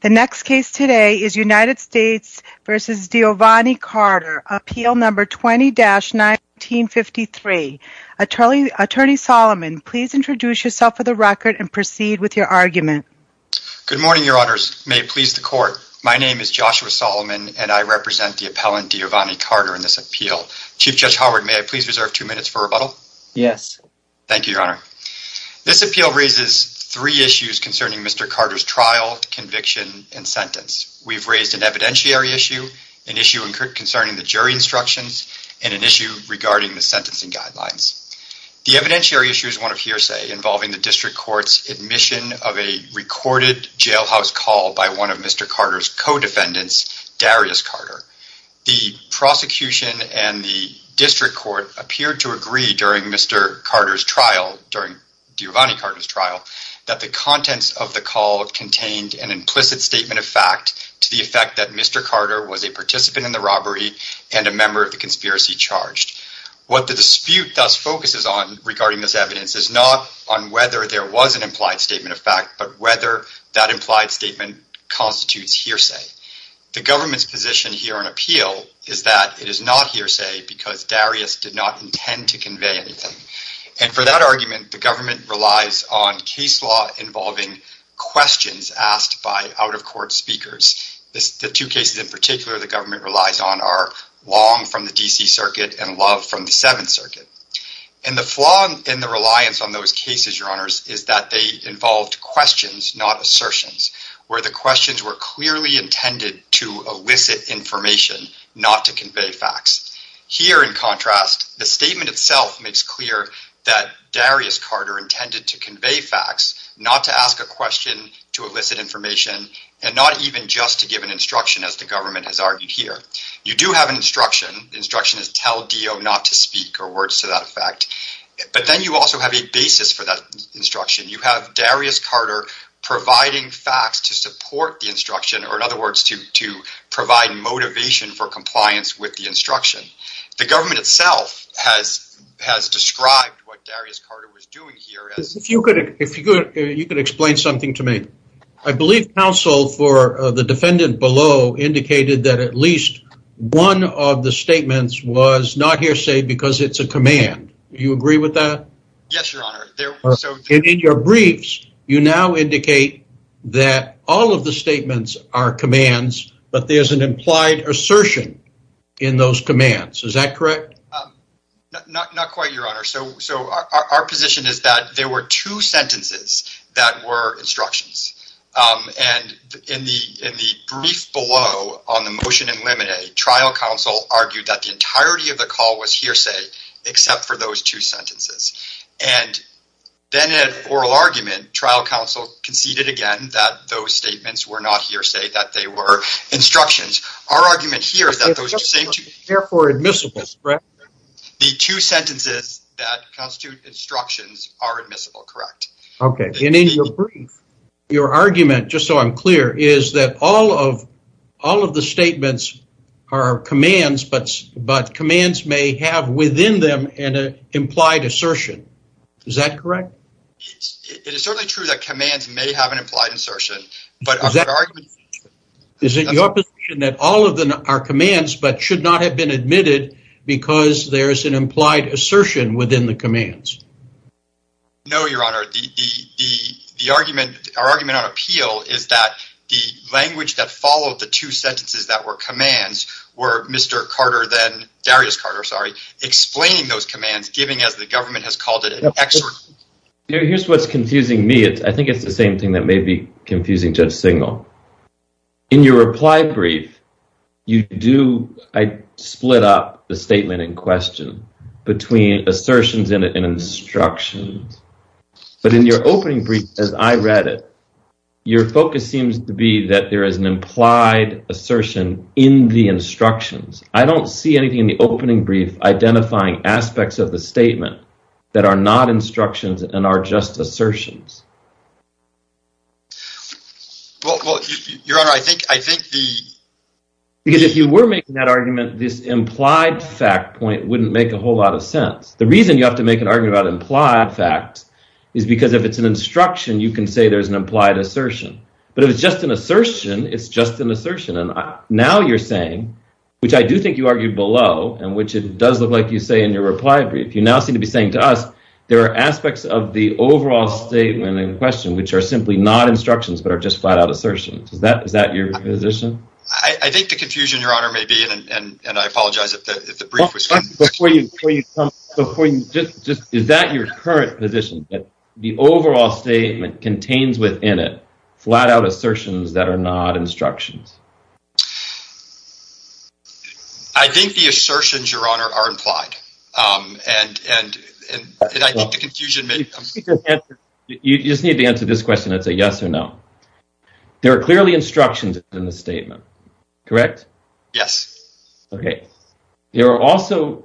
The next case today is United States v. Deovane Carter, Appeal No. 20-1953. Attorney Solomon, please introduce yourself for the record and proceed with your argument. Good morning, Your Honors. May it please the Court, my name is Joshua Solomon and I represent the appellant Deovane Carter in this appeal. Chief Judge Howard, may I please reserve two minutes for rebuttal? Yes. Thank you, Your Honor. This appeal raises three issues concerning Mr. Carter's trial, conviction, and sentence. We've raised an evidentiary issue, an issue concerning the jury instructions, and an issue regarding the sentencing guidelines. The evidentiary issue is one of hearsay involving the District Court's admission of a recorded jailhouse call by one of Mr. Carter's co-defendants, Darius Carter. The prosecution and the District Court appeared to agree during Mr. Carter's trial, during Deovane Carter's trial, that the contents of the call contained an implicit statement of fact to the effect that Mr. Carter was a participant in the robbery and a member of the conspiracy charged. What the dispute thus focuses on regarding this evidence is not on whether there was an implied statement of fact, but whether that implied statement constitutes hearsay. The government's position here on appeal is that it is not hearsay because Darius did not intend to convey anything. And for that argument, the government relies on case law involving questions asked by out-of-court speakers. The two cases in particular the government relies on are Long from the D.C. Circuit and Love from the Seventh Circuit. And the flaw in the reliance on those cases, Your Honors, is that they involved questions, not assertions, where the questions were clearly intended to elicit information, not to convey facts. Here, in contrast, the statement itself makes clear that Darius Carter intended to convey facts, not to ask a question to elicit information, and not even just to give an instruction as the government has argued here. You do have an instruction. The instruction is tell Deovane not to speak, or words to that effect. But then you also have a basis for that instruction. You have Darius Carter providing facts to support the instruction, or in other words, to provide motivation for compliance with the instruction. The government itself has described what Darius Carter was doing here as... If you could explain something to me. I believe counsel for the defendant below indicated that at least one of the statements was not hearsay because it's a command. You agree with that? Yes, Your Honor. In your briefs, you now indicate that all of the statements are commands, but there's an implied assertion in those commands. Is that correct? Not quite, Your Honor. Our position is that there were two sentences that were instructions. In the brief below on the motion in limine, trial counsel argued that the entirety of Then in an oral argument, trial counsel conceded again that those statements were not hearsay, that they were instructions. Our argument here is that those two sentences... Therefore admissible, correct? The two sentences that constitute instructions are admissible, correct? Okay. In your brief, your argument, just so I'm clear, is that all of the statements are commands, but commands may have within them an implied assertion. Is that correct? It is certainly true that commands may have an implied assertion, but our argument... Is it your position that all of them are commands, but should not have been admitted because there's an implied assertion within the commands? No, Your Honor. The argument, our argument on appeal is that the language that followed the two sentences that were commands were Mr. Carter then, Darius Carter, sorry, explaining those commands, is giving, as the government has called it, an excerpt. Here's what's confusing me. I think it's the same thing that may be confusing Judge Singal. In your reply brief, you do split up the statement in question between assertions and instructions, but in your opening brief, as I read it, your focus seems to be that there is an implied assertion in the instructions. I don't see anything in the opening brief identifying aspects of the statement that are not instructions and are just assertions. Well, Your Honor, I think the... Because if you were making that argument, this implied fact point wouldn't make a whole lot of sense. The reason you have to make an argument about implied facts is because if it's an instruction, you can say there's an implied assertion, but if it's just an assertion, it's just an assertion. Now you're saying, which I do think you argued below, and which it does look like you say in your reply brief, you now seem to be saying to us, there are aspects of the overall statement in question which are simply not instructions but are just flat-out assertions. Is that your position? I think the confusion, Your Honor, may be, and I apologize if the brief was confusing. Is that your current position, that the overall statement contains within it flat-out assertions that are not instructions? I think the assertions, Your Honor, are implied, and I think the confusion may be... You just need to answer this question and say yes or no. There are clearly instructions in the statement, correct? Yes. Okay. There are also...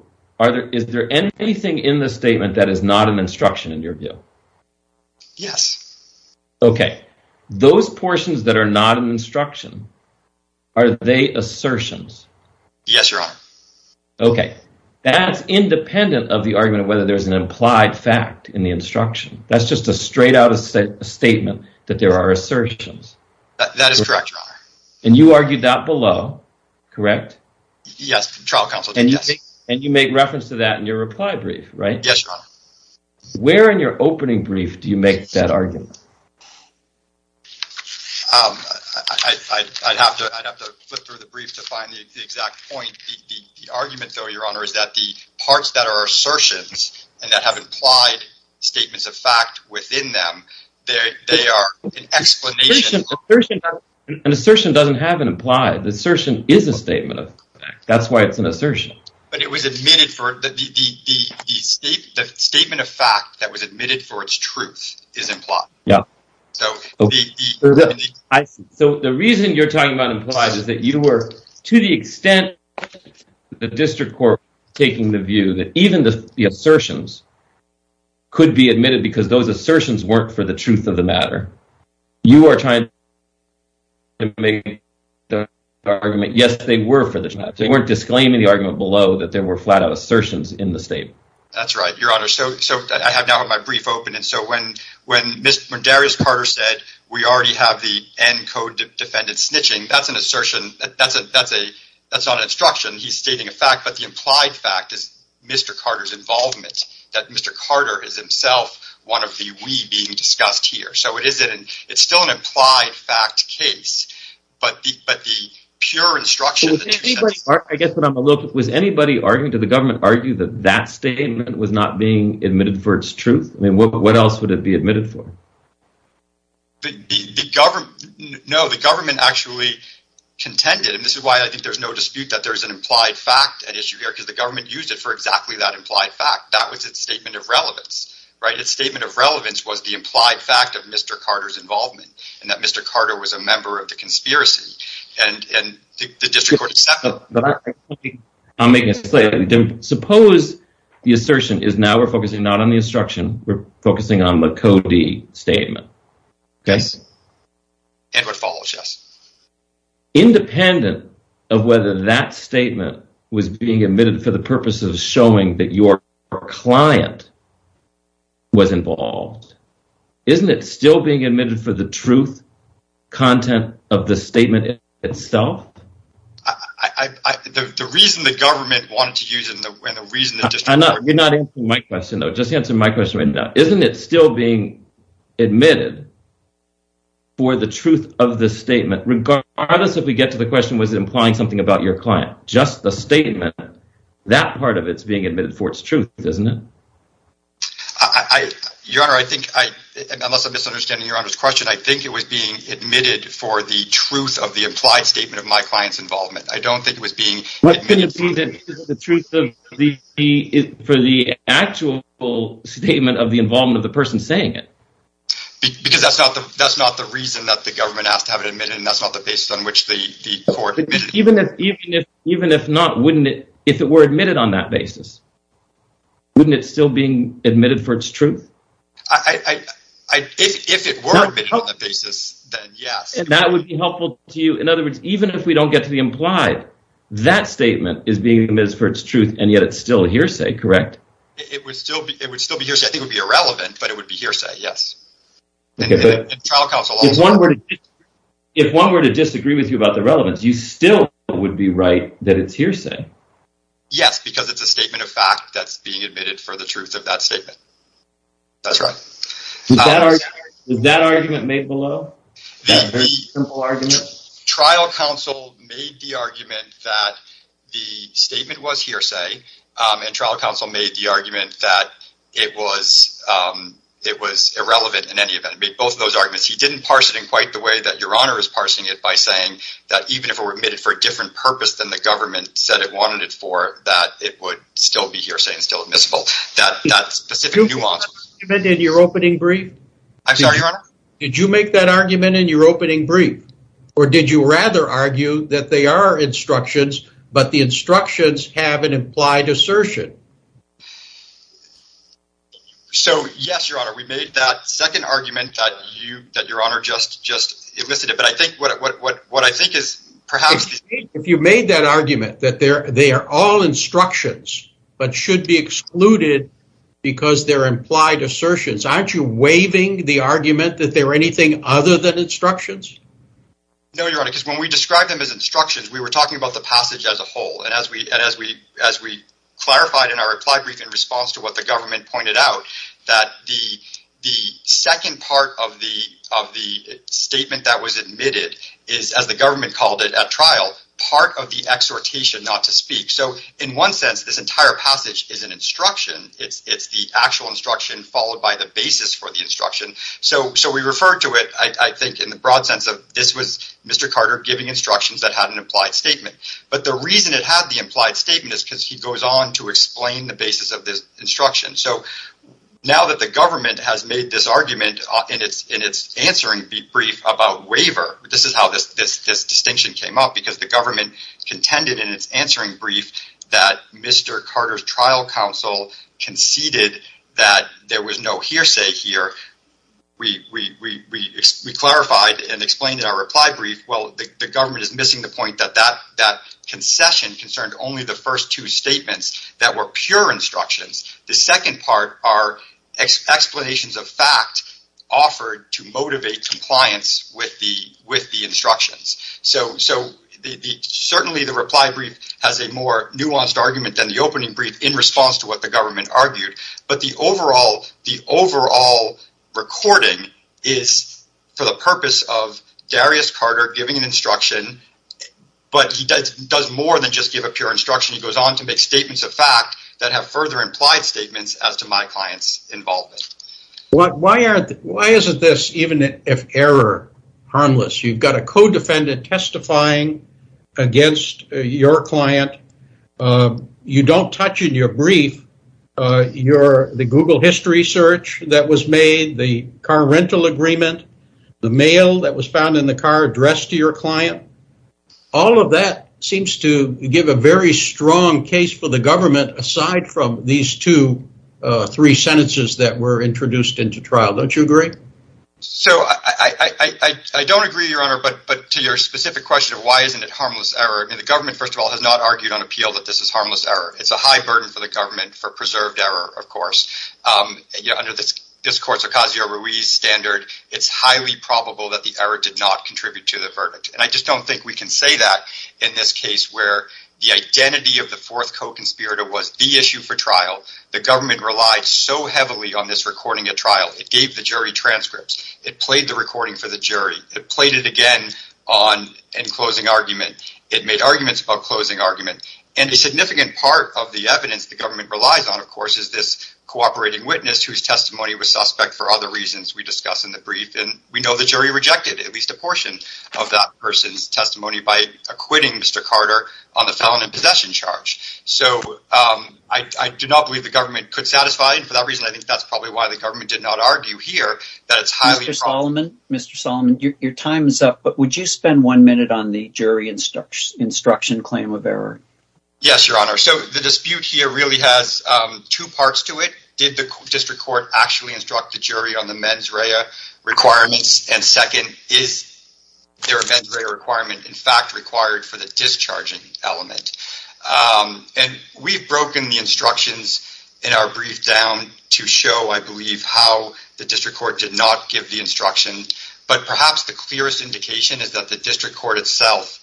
Is there anything in the statement that is not an instruction in your view? Yes. Okay. Those portions that are not an instruction, are they assertions? Yes, Your Honor. Okay. That's independent of the argument of whether there's an implied fact in the instruction. That's just a straight-out statement that there are assertions. That is correct, Your Honor. And you argued that below, correct? Yes, trial counsel did, yes. Yes, Your Honor. Where in your opening brief do you make that argument? I'd have to flip through the brief to find the exact point. The argument, though, Your Honor, is that the parts that are assertions, and that have implied statements of fact within them, they are an explanation... An assertion doesn't have an implied. The assertion is a statement of fact. That's why it's an assertion. But it was admitted for... The statement of fact that was admitted for its truth is implied. Yeah. So... I see. So the reason you're talking about implied is that you were, to the extent the district court was taking the view that even the assertions could be admitted because those assertions weren't for the truth of the matter, you are trying to make the argument, yes, they were for the truth of the matter. They weren't disclaiming the argument below that there were flat-out assertions in the statement. That's right, Your Honor. So I have now my brief open, and so when Darius Carter said we already have the ENCODE defendant snitching, that's an assertion, that's not an instruction. He's stating a fact, but the implied fact is Mr. Carter's involvement, that Mr. Carter is himself one of the we being discussed here. So it's still an implied fact case, but the pure instruction... Was anybody arguing, did the government argue that that statement was not being admitted for its truth? I mean, what else would it be admitted for? The government, no, the government actually contended, and this is why I think there's no dispute that there's an implied fact at issue here, because the government used it for exactly that implied fact. That was its statement of relevance, right? Its statement of relevance was the implied fact of Mr. Carter's involvement, and that Suppose the assertion is now we're focusing not on the instruction, we're focusing on the codee statement. Yes, it would follow, yes. Independent of whether that statement was being admitted for the purpose of showing that your client was involved, isn't it still being admitted for the truth content of the statement itself? The reason the government wanted to use it, and the reason that... You're not answering my question, though. Just answer my question right now. Isn't it still being admitted for the truth of the statement, regardless if we get to the question, was it implying something about your client? Just the statement, that part of it's being admitted for its truth, isn't it? Your Honor, I think, unless I'm misunderstanding Your Honor's question, I think it was being admitted for my client's involvement. I don't think it was being admitted for the truth of the actual statement of the involvement of the person saying it. Because that's not the reason that the government asked to have it admitted, and that's not the basis on which the court admitted it. Even if not, wouldn't it, if it were admitted on that basis, wouldn't it still be admitted for its truth? If it were admitted on that basis, then yes. That would be helpful to you. In other words, even if we don't get to the implied, that statement is being admitted for its truth, and yet it's still a hearsay, correct? It would still be hearsay. I think it would be irrelevant, but it would be hearsay, yes. If one were to disagree with you about the relevance, you still would be right that it's hearsay. Yes, because it's a statement of fact that's being admitted for the truth of that statement. That's right. Was that argument made below? That very simple argument? Trial counsel made the argument that the statement was hearsay, and trial counsel made the argument that it was irrelevant in any event. He made both of those arguments. He didn't parse it in quite the way that Your Honor is parsing it by saying that even if it were admitted for a different purpose than the government said it wanted it for, that it would still be hearsay and still admissible. That specific nuance. Did you make that argument in your opening brief? I'm sorry, Your Honor? Did you make that argument in your opening brief, or did you rather argue that they are instructions, but the instructions have an implied assertion? Yes, Your Honor. We made that second argument that Your Honor just elicited, but I think what I think is perhaps- If you made that argument that they are all instructions, but should be excluded because they're implied assertions, aren't you waiving the argument that they're anything other than instructions? No, Your Honor, because when we described them as instructions, we were talking about the passage as a whole, and as we clarified in our reply brief in response to what the government pointed out, that the second part of the statement that was admitted is, as the government called it at trial, part of the exhortation not to speak. So, in one sense, this entire passage is an instruction. It's the actual instruction followed by the basis for the instruction. So, we referred to it, I think, in the broad sense of this was Mr. Carter giving instructions that had an implied statement, but the reason it had the implied statement is because he goes on to explain the basis of this instruction. So, now that the government has made this argument in its answering brief about waiver, this is how this distinction came up, because the government contended in its answering brief that Mr. Carter's trial counsel conceded that there was no hearsay here. We clarified and explained in our reply brief, well, the government is missing the point that that concession concerned only the first two statements that were pure instructions. The second part are explanations of fact offered to motivate compliance with the instructions. So, certainly the reply brief has a more nuanced argument than the opening brief in response to what the government argued, but the overall recording is for the purpose of Darius Carter giving an instruction, but he does more than just give a pure instruction. He goes on to make statements of fact that have further implied statements as to my client's involvement. Why isn't this, even if error, harmless? You've got a co-defendant testifying against your client. You don't touch in your brief the Google history search that was made, the car rental agreement, the mail that was found in the car addressed to your client. All of that seems to give a very strong case for the government aside from these two, three sentences that were introduced into trial. Don't you agree? So, I don't agree, Your Honor, but to your specific question of why isn't it harmless error? The government, first of all, has not argued on appeal that this is harmless error. It's a high burden for the government for preserved error, of course. Under this court's Ocasio-Ruiz standard, it's highly probable that the error did not contribute to the verdict. And I just don't think we can say that in this case where the identity of the fourth co-conspirator was the issue for trial. The government relied so heavily on this recording at trial. It gave the jury transcripts. It played the recording for the jury. It played it again in closing argument. It made arguments about closing argument. And a significant part of the evidence the government relies on, of course, is this cooperating witness whose testimony was suspect for other reasons we discuss in the brief. And we know the jury rejected at least a portion of that person's testimony by acquitting Mr. Carter on the felon in possession charge. So, I do not believe the government could satisfy. And for that reason, I think that's probably why the government did not argue here that it's highly probable. Mr. Solomon, your time is up, but would you spend one minute on the jury instruction claim of error? Yes, Your Honor. So, the dispute here really has two parts to it. Did the district court actually instruct the jury on the mens rea requirements? And second, is there a mens rea requirement, in fact, required for the discharging element? And we've broken the instructions in our brief down to show, I believe, how the district court did not give the instruction. But perhaps the clearest indication is that the district court itself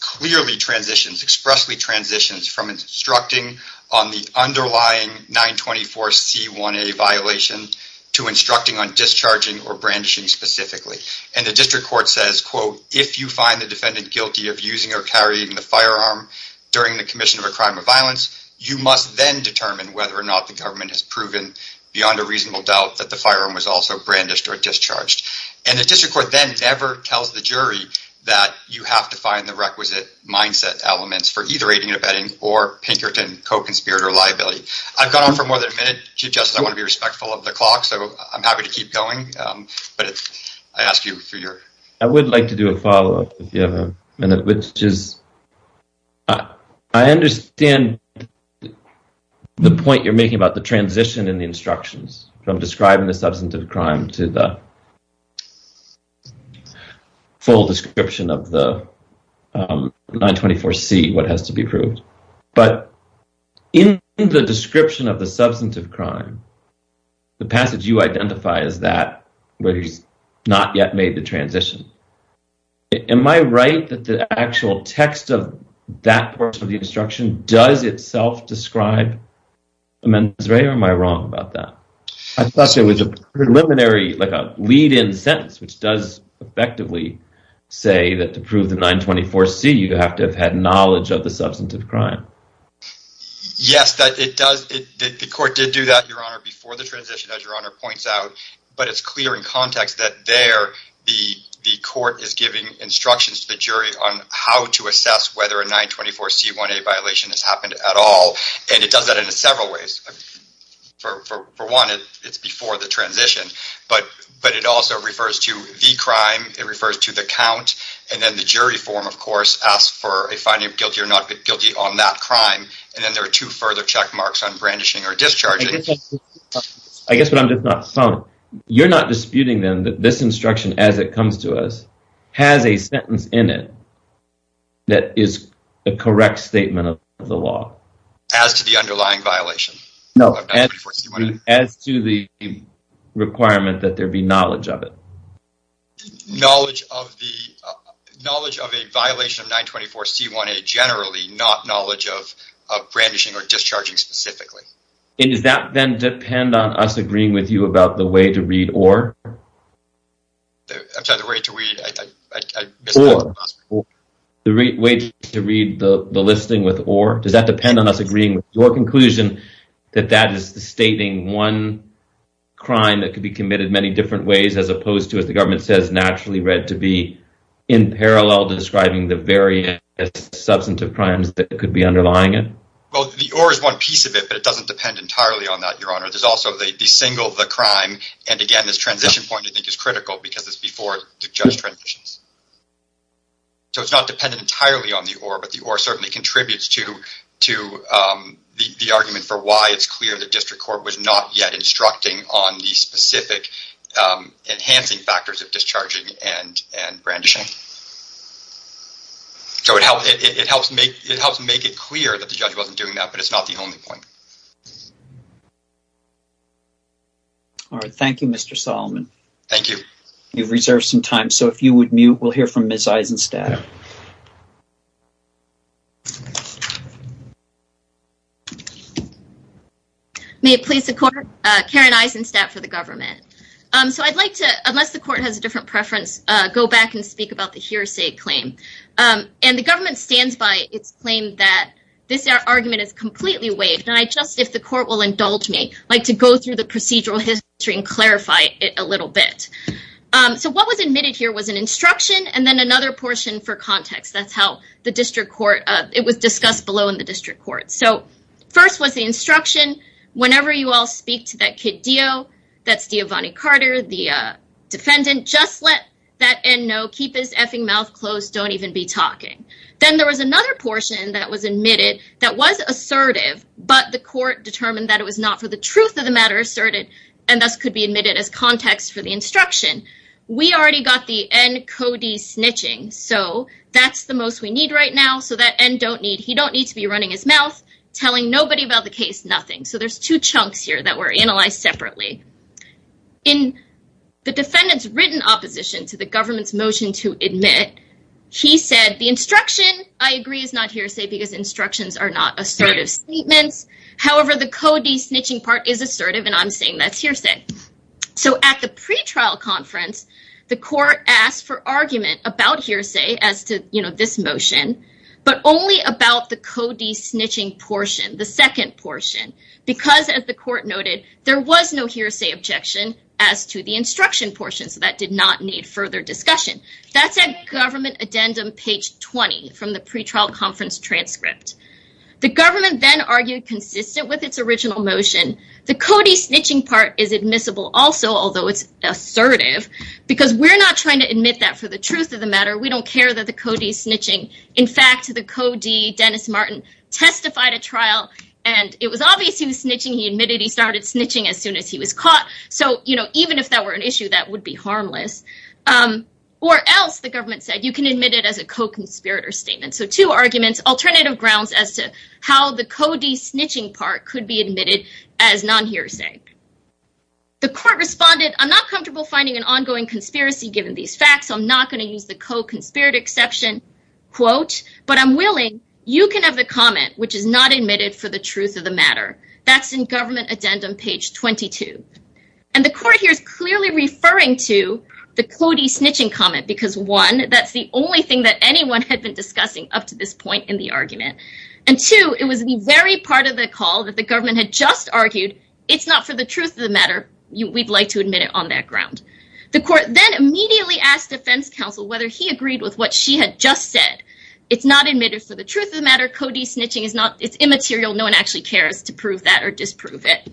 clearly transitions, expressly transitions, from instructing on the underlying 924C1A violation to instructing on discharging or brandishing specifically. And the district court says, quote, if you find the defendant guilty of using or carrying the firearm during the commission of a crime or violence, you must then determine whether or not the government has proven beyond a reasonable doubt that the firearm was also brandished or discharged. And the district court then never tells the jury that you have to find the requisite mindset elements for either aiding and abetting or Pinkerton co-conspirator liability. I've gone on for more than a minute. Chief Justice, I want to be respectful of the clock, so I'm happy to keep going. But I ask you for your. I would like to do a follow up if you have a minute, which is I understand the point you're making about the transition in the instructions from describing the substantive crime to the full description of the 924C, what has to be proved. But in the description of the substantive crime, the passage you identify is that where he's not yet made the transition. Am I right that the actual text of that part of the instruction does itself describe a man's right or am I wrong about that? I thought it was a preliminary, like a lead in sentence, which does effectively say that to prove the 924C, you have to have had knowledge of the substantive crime. Yes, it does. The court did do that. Your Honor, before the transition, as your Honor points out, but it's clear in context that there the the court is giving instructions to the jury on how to assess whether a 924C1A violation has happened at all. And it does that in several ways. For one, it's before the transition, but but it also refers to the crime. It refers to the count and then the jury form, of course, asks for a finding of guilty or not guilty on that crime. And then there are two further check marks on brandishing or discharging. I guess what I'm just not following, you're not disputing then that this instruction, as it comes to us, has a sentence in it that is a correct statement of the law? As to the underlying violation? No, as to the requirement that there be knowledge of it. Knowledge of the knowledge of a violation of 924C1A generally, not knowledge of brandishing or discharging specifically. And does that then depend on us agreeing with you about the way to read or? I'm sorry, the way to read? The way to read the listing with or? Does that depend on us agreeing with your conclusion that that is stating one crime that could be committed many different ways as opposed to, as the government says, naturally read to be in parallel to describing the various substantive crimes that could be underlying it? Well, the or is one piece of it, but it doesn't depend entirely on that, Your Honor. There's also the single the crime. And again, this transition point, I think, is critical because it's before the judge transitions. So, it's not dependent entirely on the or, but the or certainly contributes to the argument for why it's clear that District Court was not yet instructing on the specific enhancing factors of discharging and brandishing. So, it helps make it clear that the judge wasn't doing that, but it's not the only point. All right. Thank you, Mr. Solomon. Thank you. You've reserved some time. So, if you would mute, we'll hear from Ms. Eisenstadt. May it please the court, Karen Eisenstadt for the government. So, I'd like to, unless the court has a different preference, go back and speak about the hearsay claim. And the government stands by its claim that this argument is completely waived. And I just, if the court will indulge me, like to go through the procedural history and clarify it a little bit. So, what was admitted here was an instruction and then another portion for context. That's how the District Court, it was discussed below in the District Court. So, first was the instruction. Whenever you all speak to that kid, Dio, that's Dio Vanni Carter, the defendant, just let that end know. Keep his effing mouth closed. Don't even be talking. Then there was another portion that was admitted that was assertive. But the court determined that it was not for the truth of the matter asserted and thus could be admitted as context for the instruction. We already got the end Cody snitching. So, that's the most we need right now. So, that end don't need, he don't need to be running his mouth telling nobody about the case. Nothing. So, there's two chunks here that were analyzed separately. In the defendant's written opposition to the government's motion to admit, he said the instruction, I agree, is not hearsay because instructions are not assertive statements. However, the Cody snitching part is assertive and I'm saying that's hearsay. So, at the pretrial conference, the court asked for argument about hearsay as to, you know, this motion. But only about the Cody snitching portion, the second portion. Because, as the court noted, there was no hearsay objection as to the instruction portion. So, that did not need further discussion. That's at government addendum page 20 from the pretrial conference transcript. The government then argued consistent with its original motion. The Cody snitching part is admissible also, although it's assertive. Because we're not trying to admit that for the truth of the matter. We don't care that the Cody snitching. In fact, the Cody, Dennis Martin, testified at trial and it was obvious he was snitching. He admitted he started snitching as soon as he was caught. So, you know, even if that were an issue, that would be harmless. Or else, the government said, you can admit it as a co-conspirator statement. So, two arguments, alternative grounds as to how the Cody snitching part could be admitted as non-hearsay. The court responded, I'm not comfortable finding an ongoing conspiracy given these facts. I'm not going to use the co-conspirator exception. Quote, but I'm willing, you can have the comment which is not admitted for the truth of the matter. That's in government addendum page 22. And the court here is clearly referring to the Cody snitching comment. Because, one, that's the only thing that anyone had been discussing up to this point in the argument. And two, it was the very part of the call that the government had just argued, it's not for the truth of the matter. We'd like to admit it on that ground. The court then immediately asked defense counsel whether he agreed with what she had just said. It's not admitted for the truth of the matter. Cody snitching is not, it's immaterial. No one actually cares to prove that or disprove it.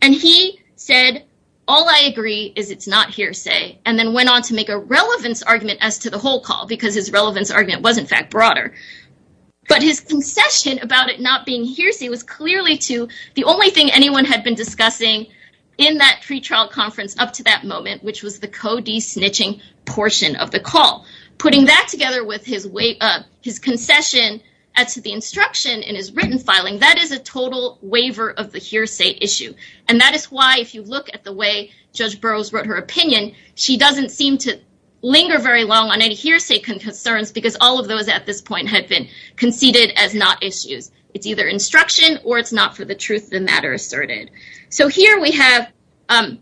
And he said, all I agree is it's not hearsay. And then went on to make a relevance argument as to the whole call. Because his relevance argument was, in fact, broader. But his concession about it not being hearsay was clearly to the only thing anyone had been discussing in that pretrial conference up to that moment, which was the Cody snitching portion of the call. Putting that together with his concession as to the instruction in his written filing, that is a total waiver of the hearsay issue. And that is why if you look at the way Judge Burroughs wrote her opinion, she doesn't seem to linger very long on any hearsay concerns because all of those at this point had been conceded as not issues. It's either instruction or it's not for the truth of the matter asserted. So here we have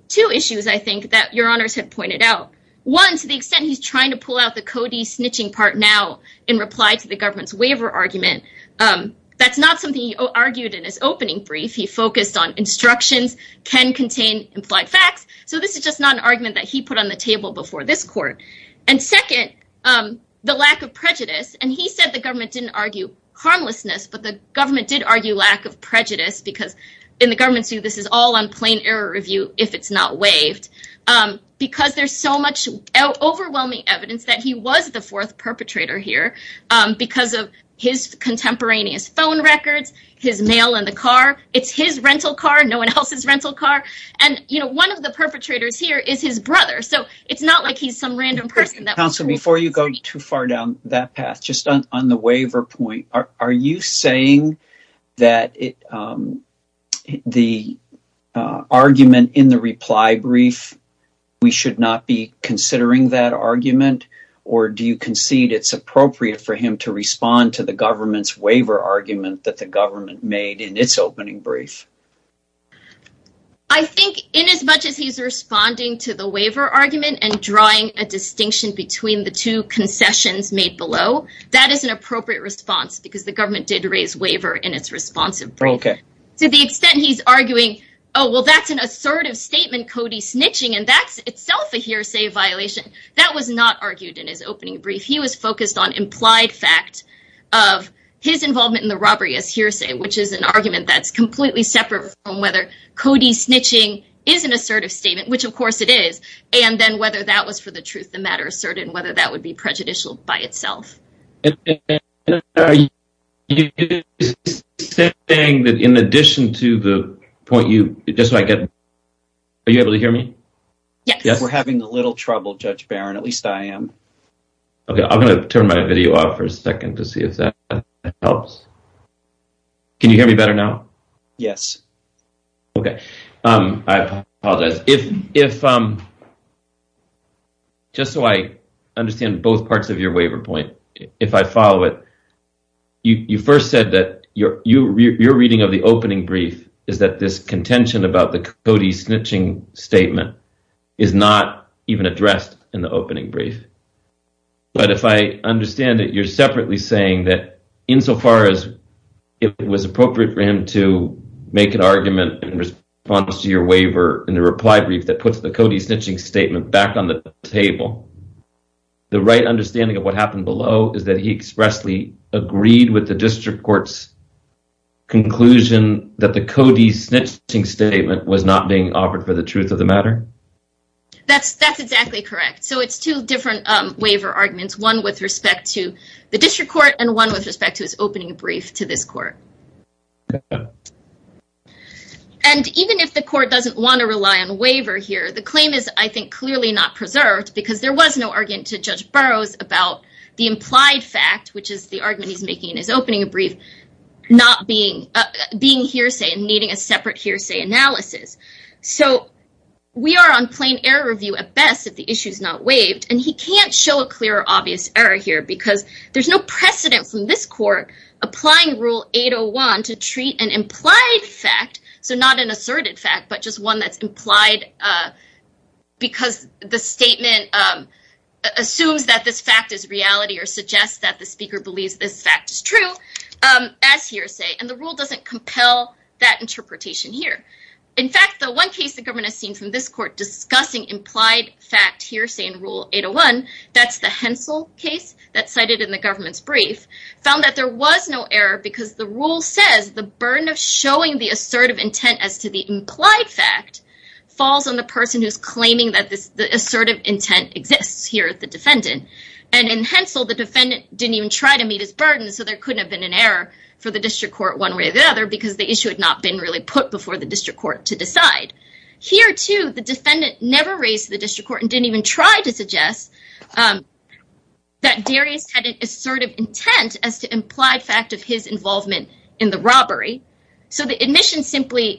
two issues, I think, that your honors had pointed out. One, to the extent he's trying to pull out the Cody snitching part now in reply to the government's waiver argument, that's not something he argued in his opening brief. He focused on instructions can contain implied facts. So this is just not an argument that he put on the table before this court. And second, the lack of prejudice. And he said the government didn't argue harmlessness, but the government did argue lack of prejudice because in the government's view, this is all on plain error review if it's not waived. Because there's so much overwhelming evidence that he was the fourth perpetrator here because of his contemporaneous phone records, his mail in the car. It's his rental car. No one else's rental car. And, you know, one of the perpetrators here is his brother. So it's not like he's some random person. Counsel, before you go too far down that path, just on the waiver point, are you saying that the argument in the reply brief, we should not be considering that argument? Or do you concede it's appropriate for him to respond to the government's waiver argument that the government made in its opening brief? I think in as much as he's responding to the waiver argument and drawing a distinction between the two concessions made below, that is an appropriate response because the government did raise waiver in its responsive. Okay. To the extent he's arguing, oh, well, that's an assertive statement, Cody snitching, and that's itself a hearsay violation. That was not argued in his opening brief. He was focused on implied fact of his involvement in the robbery as hearsay, which is an argument that's completely separate from whether Cody snitching is an assertive statement, which, of course, it is. And then whether that was for the truth of the matter asserted and whether that would be prejudicial by itself. Are you saying that in addition to the point you just made, are you able to hear me? Yes. We're having a little trouble, Judge Barron. At least I am. Okay. I'm going to turn my video off for a second to see if that helps. Can you hear me better now? Yes. Okay. I apologize. Just so I understand both parts of your waiver point, if I follow it, you first said that your reading of the opening brief is that this contention about the Cody snitching statement is not even addressed in the opening brief. But if I understand it, you're separately saying that insofar as it was appropriate for him to make an argument in response to your waiver in the reply brief that puts the Cody snitching statement back on the table, the right understanding of what happened below is that he expressly agreed with the district court's conclusion that the Cody snitching statement was not being offered for the truth of the matter? That's exactly correct. So it's two different waiver arguments, one with respect to the district court and one with respect to his opening brief to this court. And even if the court doesn't want to rely on a waiver here, the claim is, I think, clearly not preserved because there was no argument to Judge Burroughs about the implied fact, which is the argument he's making in his opening brief, not being hearsay and needing a separate hearsay analysis. So we are on plain error review at best if the issue is not waived. And he can't show a clear, obvious error here because there's no precedent from this court applying Rule 801 to treat an implied fact, so not an asserted fact, but just one that's implied because the statement assumes that this fact is reality or suggests that the speaker believes this fact is true as hearsay. And the rule doesn't compel that interpretation here. In fact, the one case the government has seen from this court discussing implied fact hearsay in Rule 801, that's the Hensel case that's cited in the government's brief, found that there was no error because the rule says the burden of showing the assertive intent as to the implied fact falls on the person who's claiming that the assertive intent exists here at the defendant. And in Hensel, the defendant didn't even try to meet his burden, so there couldn't have been an error for the district court one way or the other because the issue had not been really put before the district court to decide. Here, too, the defendant never raised to the district court and didn't even try to suggest that Darius had an assertive intent as to implied fact of his involvement in the robbery. So the admission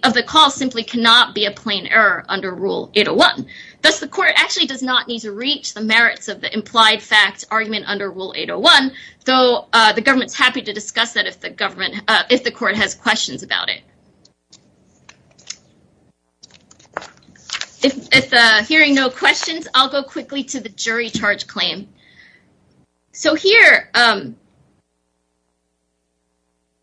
of the call simply cannot be a plain error under Rule 801. Thus, the court actually does not need to reach the merits of the implied fact argument under Rule 801, though the government's happy to discuss that if the court has questions about it. If hearing no questions, I'll go quickly to the jury charge claim. So here,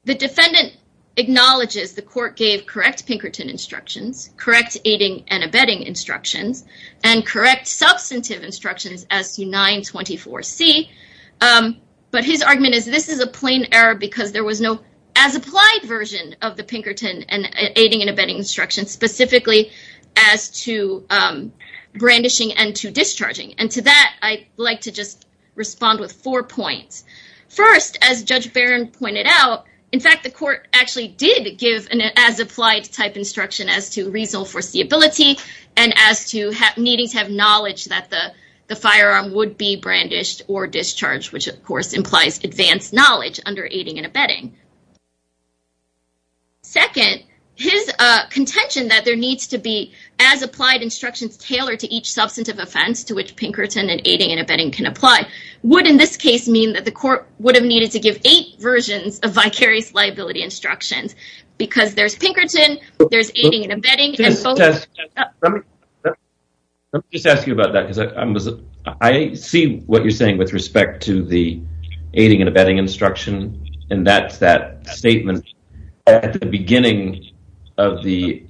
the defendant acknowledges the court gave correct Pinkerton instructions, correct aiding and abetting instructions, and correct substantive instructions as to 924C. But his argument is this is a plain error because there was no as-applied version of the Pinkerton aiding and abetting instructions specifically as to brandishing and to discharging. And to that, I'd like to just respond with four points. First, as Judge Barron pointed out, in fact, the court actually did give an as-applied type instruction as to reasonable foreseeability and as to needing to have knowledge that the firearm would be brandished or discharged, which, of course, implies advanced knowledge under aiding and abetting. Second, his contention that there needs to be as-applied instructions tailored to each substantive offense to which Pinkerton and aiding and abetting can apply would, in this case, mean that the court would have needed to give eight versions of vicarious liability instructions because there's Pinkerton, there's aiding and abetting. Let me just ask you about that because I see what you're saying with respect to the aiding and abetting instruction. And that's that statement at the beginning of the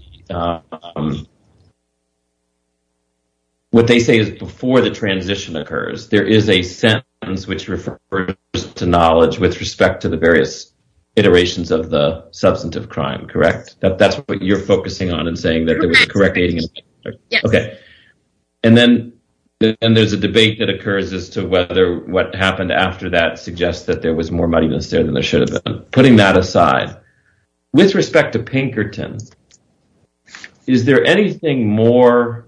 what they say is before the transition occurs, there is a sentence which refers to knowledge with respect to the various iterations of the substantive crime, correct? That's what you're focusing on and saying that there was a correct aiding and abetting? Yes. Okay. And then there's a debate that occurs as to whether what happened after that suggests that there was more money in the state than there should have been. With respect to Pinkerton, is there anything more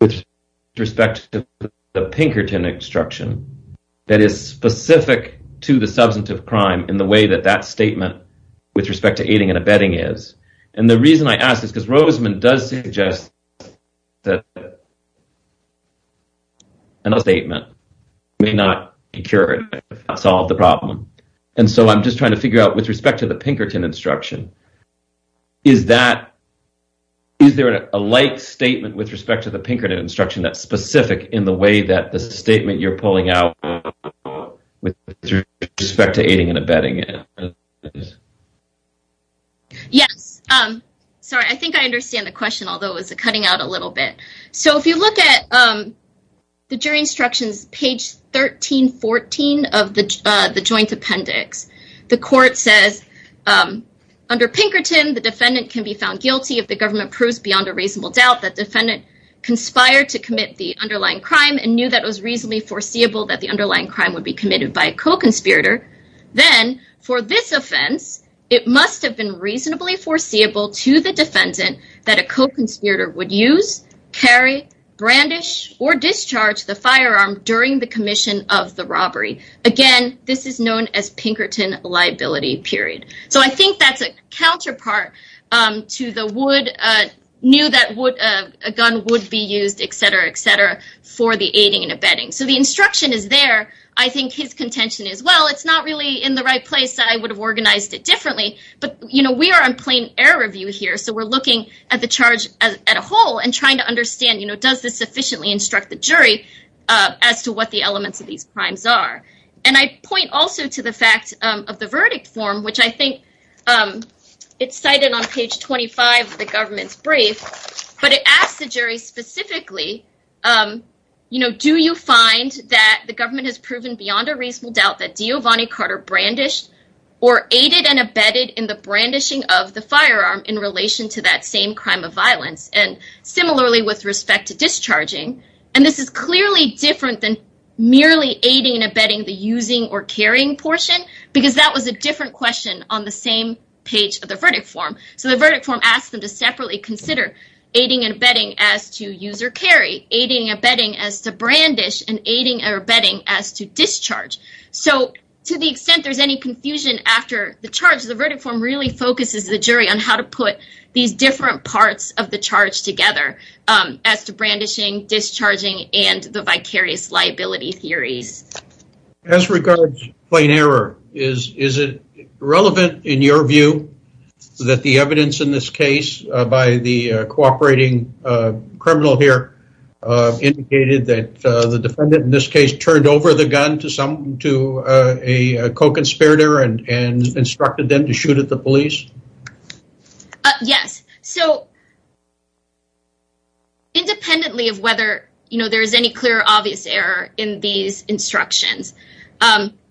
with respect to the Pinkerton instruction that is specific to the substantive crime in the way that that statement with respect to aiding and abetting is? And the reason I ask is because Rosemond does suggest that a statement may not be cured, may not solve the problem. And so I'm just trying to figure out with respect to the Pinkerton instruction, is there a light statement with respect to the Pinkerton instruction that's specific in the way that the statement you're pulling out with respect to aiding and abetting is? Yes. Sorry, I think I understand the question, although it was cutting out a little bit. So if you look at the jury instructions, page 1314 of the joint appendix, the court says under Pinkerton, the defendant can be found guilty if the government proves beyond a reasonable doubt that defendant conspired to commit the underlying crime and knew that was reasonably foreseeable that the underlying crime would be committed by a co-conspirator. Then for this offense, it must have been reasonably foreseeable to the defendant that a co-conspirator would use, carry, brandish, or discharge the firearm during the commission of the robbery. Again, this is known as Pinkerton liability period. So I think that's a counterpart to the would knew that would a gun would be used, et cetera, et cetera, for the aiding and abetting. So the instruction is there. I think his contention is, well, it's not really in the right place. I would have organized it differently. But, you know, we are on plain error review here. So we're looking at the charge as a whole and trying to understand, you know, does this sufficiently instruct the jury as to what the elements of these crimes are? And I point also to the fact of the verdict form, which I think it's cited on page 25 of the government's brief. But it asks the jury specifically, you know, do you find that the government has proven beyond a reasonable doubt that Giovanni Carter brandished or aided and abetted in the brandishing of the firearm in relation to that same crime of violence? And similarly, with respect to discharging, and this is clearly different than merely aiding and abetting the using or carrying portion, because that was a different question on the same page of the verdict form. So the verdict form asks them to separately consider aiding and abetting as to use or carry, aiding and abetting as to brandish, and aiding or abetting as to discharge. So to the extent there's any confusion after the charge, the verdict form really focuses the jury on how to put these different parts of the charge together as to brandishing, discharging, and the vicarious liability theories. As regards plain error, is it relevant in your view that the evidence in this case by the cooperating criminal here indicated that the defendant in this case turned over the gun to a co-conspirator and instructed them to shoot at the police? Yes. So independently of whether there is any clear or obvious error in these instructions,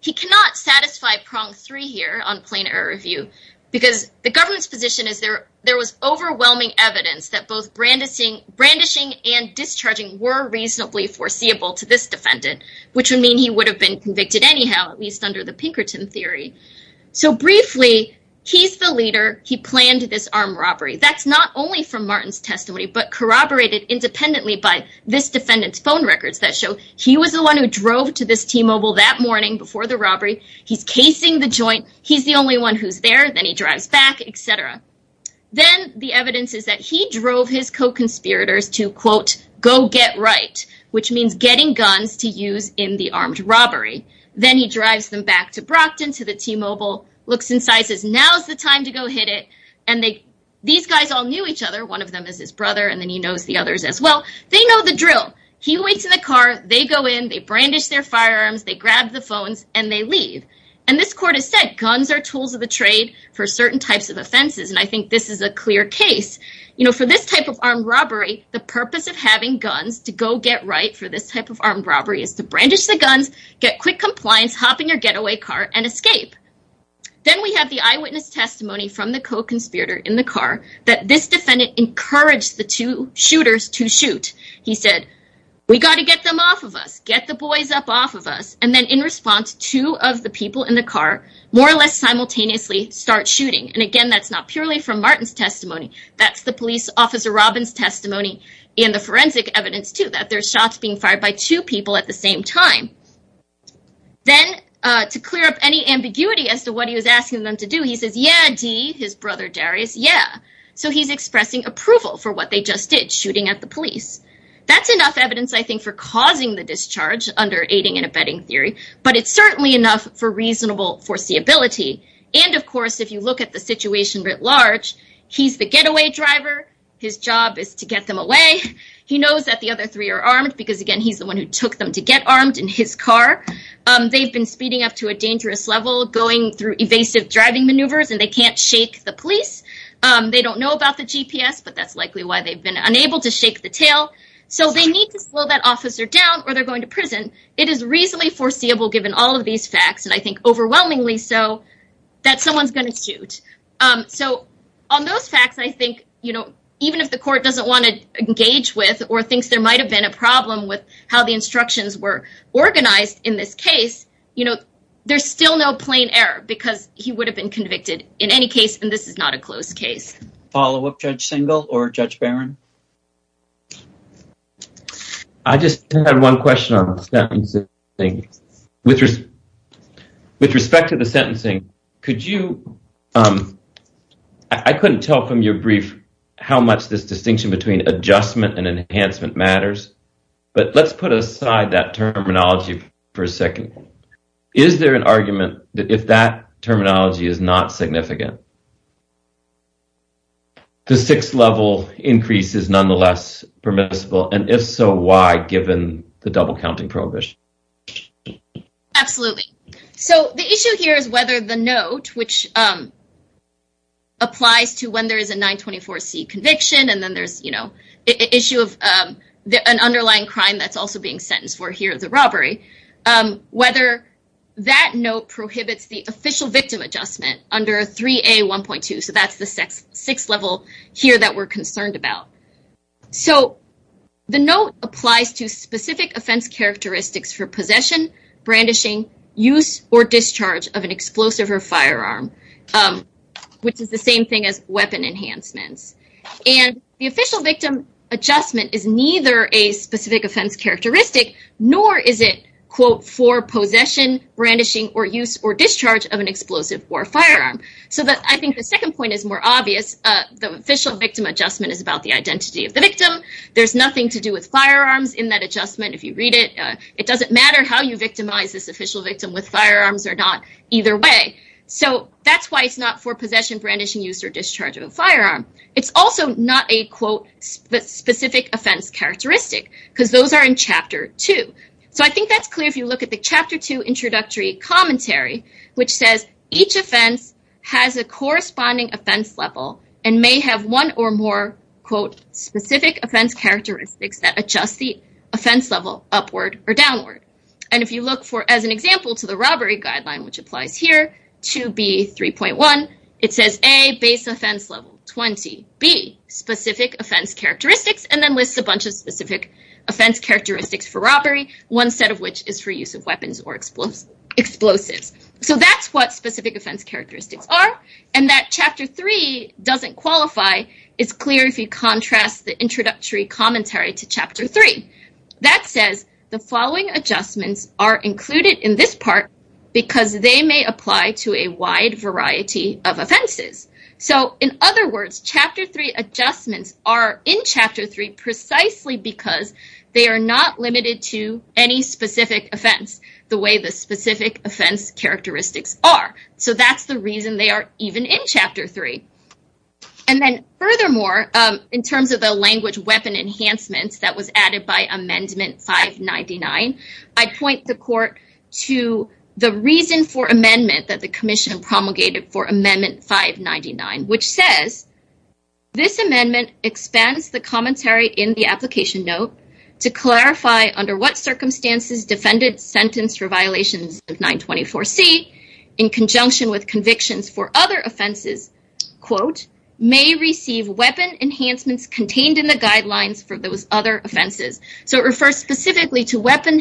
he cannot satisfy prong three here on plain error review, because the government's position is there was overwhelming evidence that both brandishing and discharging were reasonably foreseeable to this defendant, which would mean he would have been convicted anyhow, at least under the Pinkerton theory. So briefly, he's the leader. He planned this armed robbery. That's not only from Martin's testimony, but corroborated independently by this defendant's phone records that show he was the one who drove to this T-Mobile that morning before the robbery. He's casing the joint. He's the only one who's there. Then he drives back, etc. Then the evidence is that he drove his co-conspirators to, quote, go get right, which means getting guns to use in the armed robbery. Then he drives them back to Brockton to the T-Mobile, looks inside, says, now's the time to go hit it. And these guys all knew each other. One of them is his brother, and then he knows the others as well. They know the drill. He waits in the car. They go in, they brandish their firearms, they grab the phones, and they leave. And this court has said guns are tools of the trade for certain types of offenses, and I think this is a clear case. For this type of armed robbery, the purpose of having guns to go get right for this type of armed robbery is to brandish the guns, get quick compliance, hop in your getaway car, and escape. Then we have the eyewitness testimony from the co-conspirator in the car that this defendant encouraged the two shooters to shoot. He said, we got to get them off of us. Get the boys up off of us. And then in response, two of the people in the car more or less simultaneously start shooting. And again, that's not purely from Martin's testimony. That's the police officer Robin's testimony and the forensic evidence, too, that there's shots being fired by two people at the same time. Then, to clear up any ambiguity as to what he was asking them to do, he says, yeah, D, his brother Darius, yeah. So he's expressing approval for what they just did, shooting at the police. That's enough evidence, I think, for causing the discharge under aiding and abetting theory, but it's certainly enough for reasonable foreseeability. And, of course, if you look at the situation at large, he's the getaway driver. His job is to get them away. He knows that the other three are armed because, again, he's the one who took them to get armed in his car. They've been speeding up to a dangerous level, going through evasive driving maneuvers, and they can't shake the police. They don't know about the GPS, but that's likely why they've been unable to shake the tail. So they need to slow that officer down or they're going to prison. It is reasonably foreseeable, given all of these facts, and I think overwhelmingly so, that someone's going to shoot. So on those facts, I think, you know, even if the court doesn't want to engage with or thinks there might have been a problem with how the instructions were organized in this case, you know, there's still no plain error because he would have been convicted in any case. And this is not a close case. Follow-up, Judge Singal or Judge Barron? I just had one question on the sentencing. With respect to the sentencing, could you – I couldn't tell from your brief how much this distinction between adjustment and enhancement matters, but let's put aside that terminology for a second. Is there an argument that if that terminology is not significant, the sixth-level increase is nonetheless permissible, and if so, why, given the double-counting prohibition? Absolutely. So the issue here is whether the note, which applies to when there is a 924C conviction and then there's, you know, the issue of an underlying crime that's also being sentenced for here as a robbery, whether that note prohibits the official victim adjustment under 3A1.2, so that's the sixth level here that we're concerned about. So the note applies to specific offense characteristics for possession, brandishing, use, or discharge of an explosive or firearm, which is the same thing as weapon enhancements. And the official victim adjustment is neither a specific offense characteristic nor is it, quote, for possession, brandishing, or use or discharge of an explosive or firearm. So I think the second point is more obvious. The official victim adjustment is about the identity of the victim. There's nothing to do with firearms in that adjustment, if you read it. It doesn't matter how you victimize this official victim with firearms or not, either way. So that's why it's not for possession, brandishing, use, or discharge of a firearm. It's also not a, quote, specific offense characteristic, because those are in Chapter 2. So I think that's clear if you look at the Chapter 2 introductory commentary, which says each offense has a corresponding offense level and may have one or more, quote, specific offense characteristics that adjust the offense level upward or downward. And if you look for, as an example, to the robbery guideline, which applies here to B3.1, it says, A, base offense level 20, B, specific offense characteristics, and then lists a bunch of specific offense characteristics for robbery, one set of which is for use of weapons or explosives. So that's what specific offense characteristics are, and that Chapter 3 doesn't qualify. It's clear if you contrast the introductory commentary to Chapter 3. That says the following adjustments are included in this part because they may apply to a wide variety of offenses. So in other words, Chapter 3 adjustments are in Chapter 3 precisely because they are not limited to any specific offense the way the specific offense characteristics are. So that's the reason they are even in Chapter 3. And then furthermore, in terms of the language weapon enhancements that was added by Amendment 599, I point the Court to the reason for amendment that the Commission promulgated for Amendment 599, which says, This amendment expands the commentary in the application note to clarify under what circumstances defendants sentenced for violations of 924C, in conjunction with convictions for other offenses, may receive weapon enhancements contained in the guidelines for those other offenses. So it refers specifically to weapon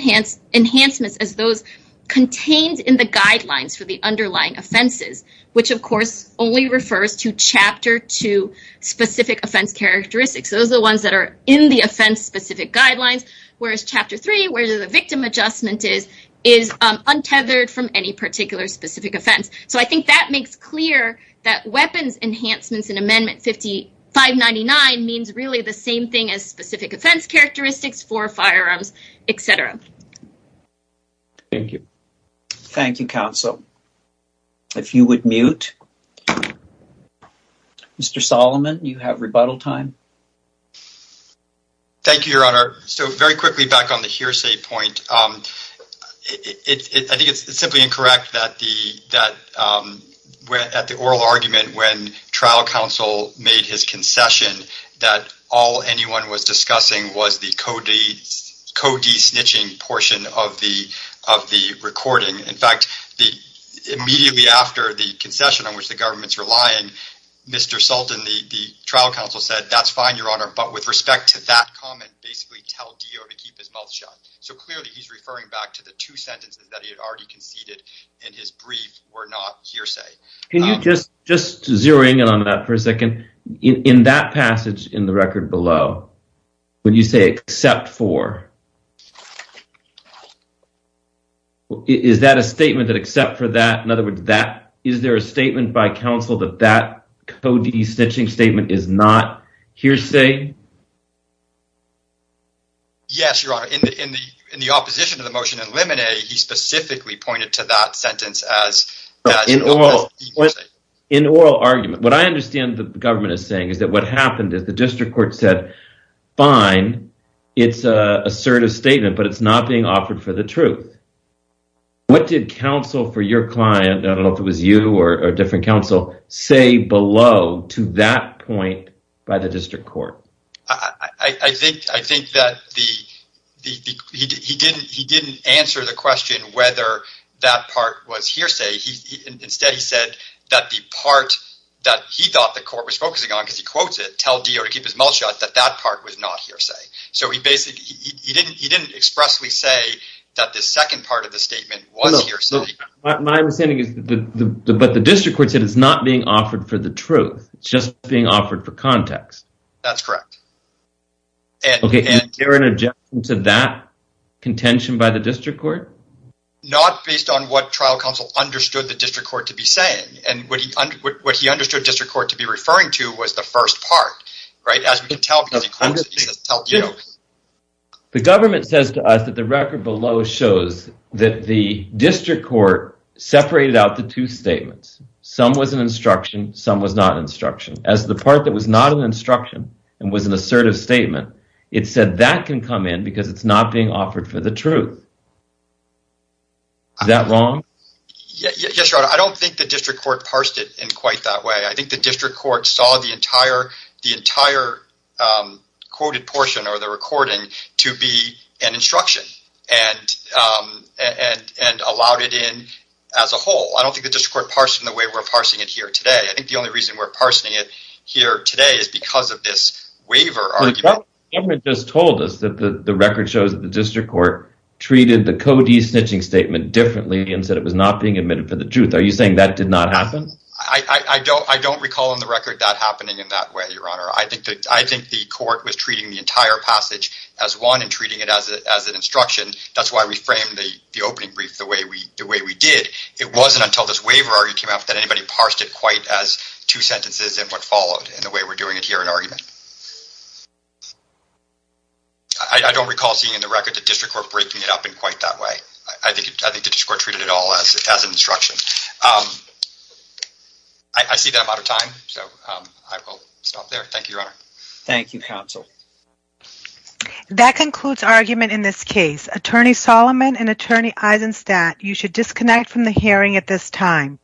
enhancements as those contained in the guidelines for the underlying offenses, which, of course, only refers to Chapter 2 specific offense characteristics. Those are the ones that are in the offense specific guidelines, whereas Chapter 3, where the victim adjustment is, is untethered from any particular specific offense. So I think that makes clear that weapons enhancements in Amendment 599 means really the same thing as specific offense characteristics for firearms, etc. Thank you. Thank you, counsel. If you would mute. Mr. Solomon, you have rebuttal time. Thank you, Your Honor. So very quickly, back on the hearsay point, I think it's simply incorrect that at the oral argument when trial counsel made his concession, that all anyone was discussing was the codee snitching portion of the recording. In fact, immediately after the concession on which the government's relying, Mr. Sultan, the trial counsel said, that's fine, Your Honor, but with respect to that comment, basically tell Dio to keep his mouth shut. So clearly he's referring back to the two sentences that he had already conceded in his brief were not hearsay. Can you just zero in on that for a second? In that passage in the record below, when you say except for, is that a statement that except for that, in other words, is there a statement by counsel that that codee snitching statement is not hearsay? Yes, Your Honor. In the opposition to the motion in limine, he specifically pointed to that sentence as hearsay. In oral argument, what I understand the government is saying is that what happened is the district court said, fine, it's assertive statement, but it's not being offered for the truth. What did counsel for your client, I don't know if it was you or different counsel, say below to that point by the district court? I think that he didn't answer the question whether that part was hearsay. Instead, he said that the part that he thought the court was focusing on, because he quotes it, tell Dio to keep his mouth shut, that that part was not hearsay. He didn't expressly say that the second part of the statement was hearsay. My understanding is, but the district court said it's not being offered for the truth, it's just being offered for context. That's correct. Okay, is there an objection to that contention by the district court? Not based on what trial counsel understood the district court to be saying. What he understood the district court to be referring to was the first part, as we can tell. The government says to us that the record below shows that the district court separated out the two statements. Some was an instruction, some was not an instruction. As the part that was not an instruction and was an assertive statement, it said that can come in because it's not being offered for the truth. Is that wrong? I don't think the district court parsed it in quite that way. I think the district court saw the entire quoted portion or the recording to be an instruction and allowed it in as a whole. I don't think the district court parsed it in the way we're parsing it here today. I think the only reason we're parsing it here today is because of this waiver argument. The government just told us that the record shows that the district court treated the codee snitching statement differently and said it was not being admitted for the truth. Are you saying that did not happen? I don't recall in the record that happening in that way, Your Honor. I think the court was treating the entire passage as one and treating it as an instruction. That's why we framed the opening brief the way we did. It wasn't until this waiver argument came out that anybody parsed it quite as two sentences and what followed in the way we're doing it here in argument. I don't recall seeing in the record the district court breaking it up in quite that way. I think the district court treated it all as an instruction. I see that I'm out of time, so I will stop there. Thank you, Your Honor. Thank you, counsel. That concludes our argument in this case. Attorney Solomon and Attorney Eisenstadt, you should disconnect from the hearing at this time.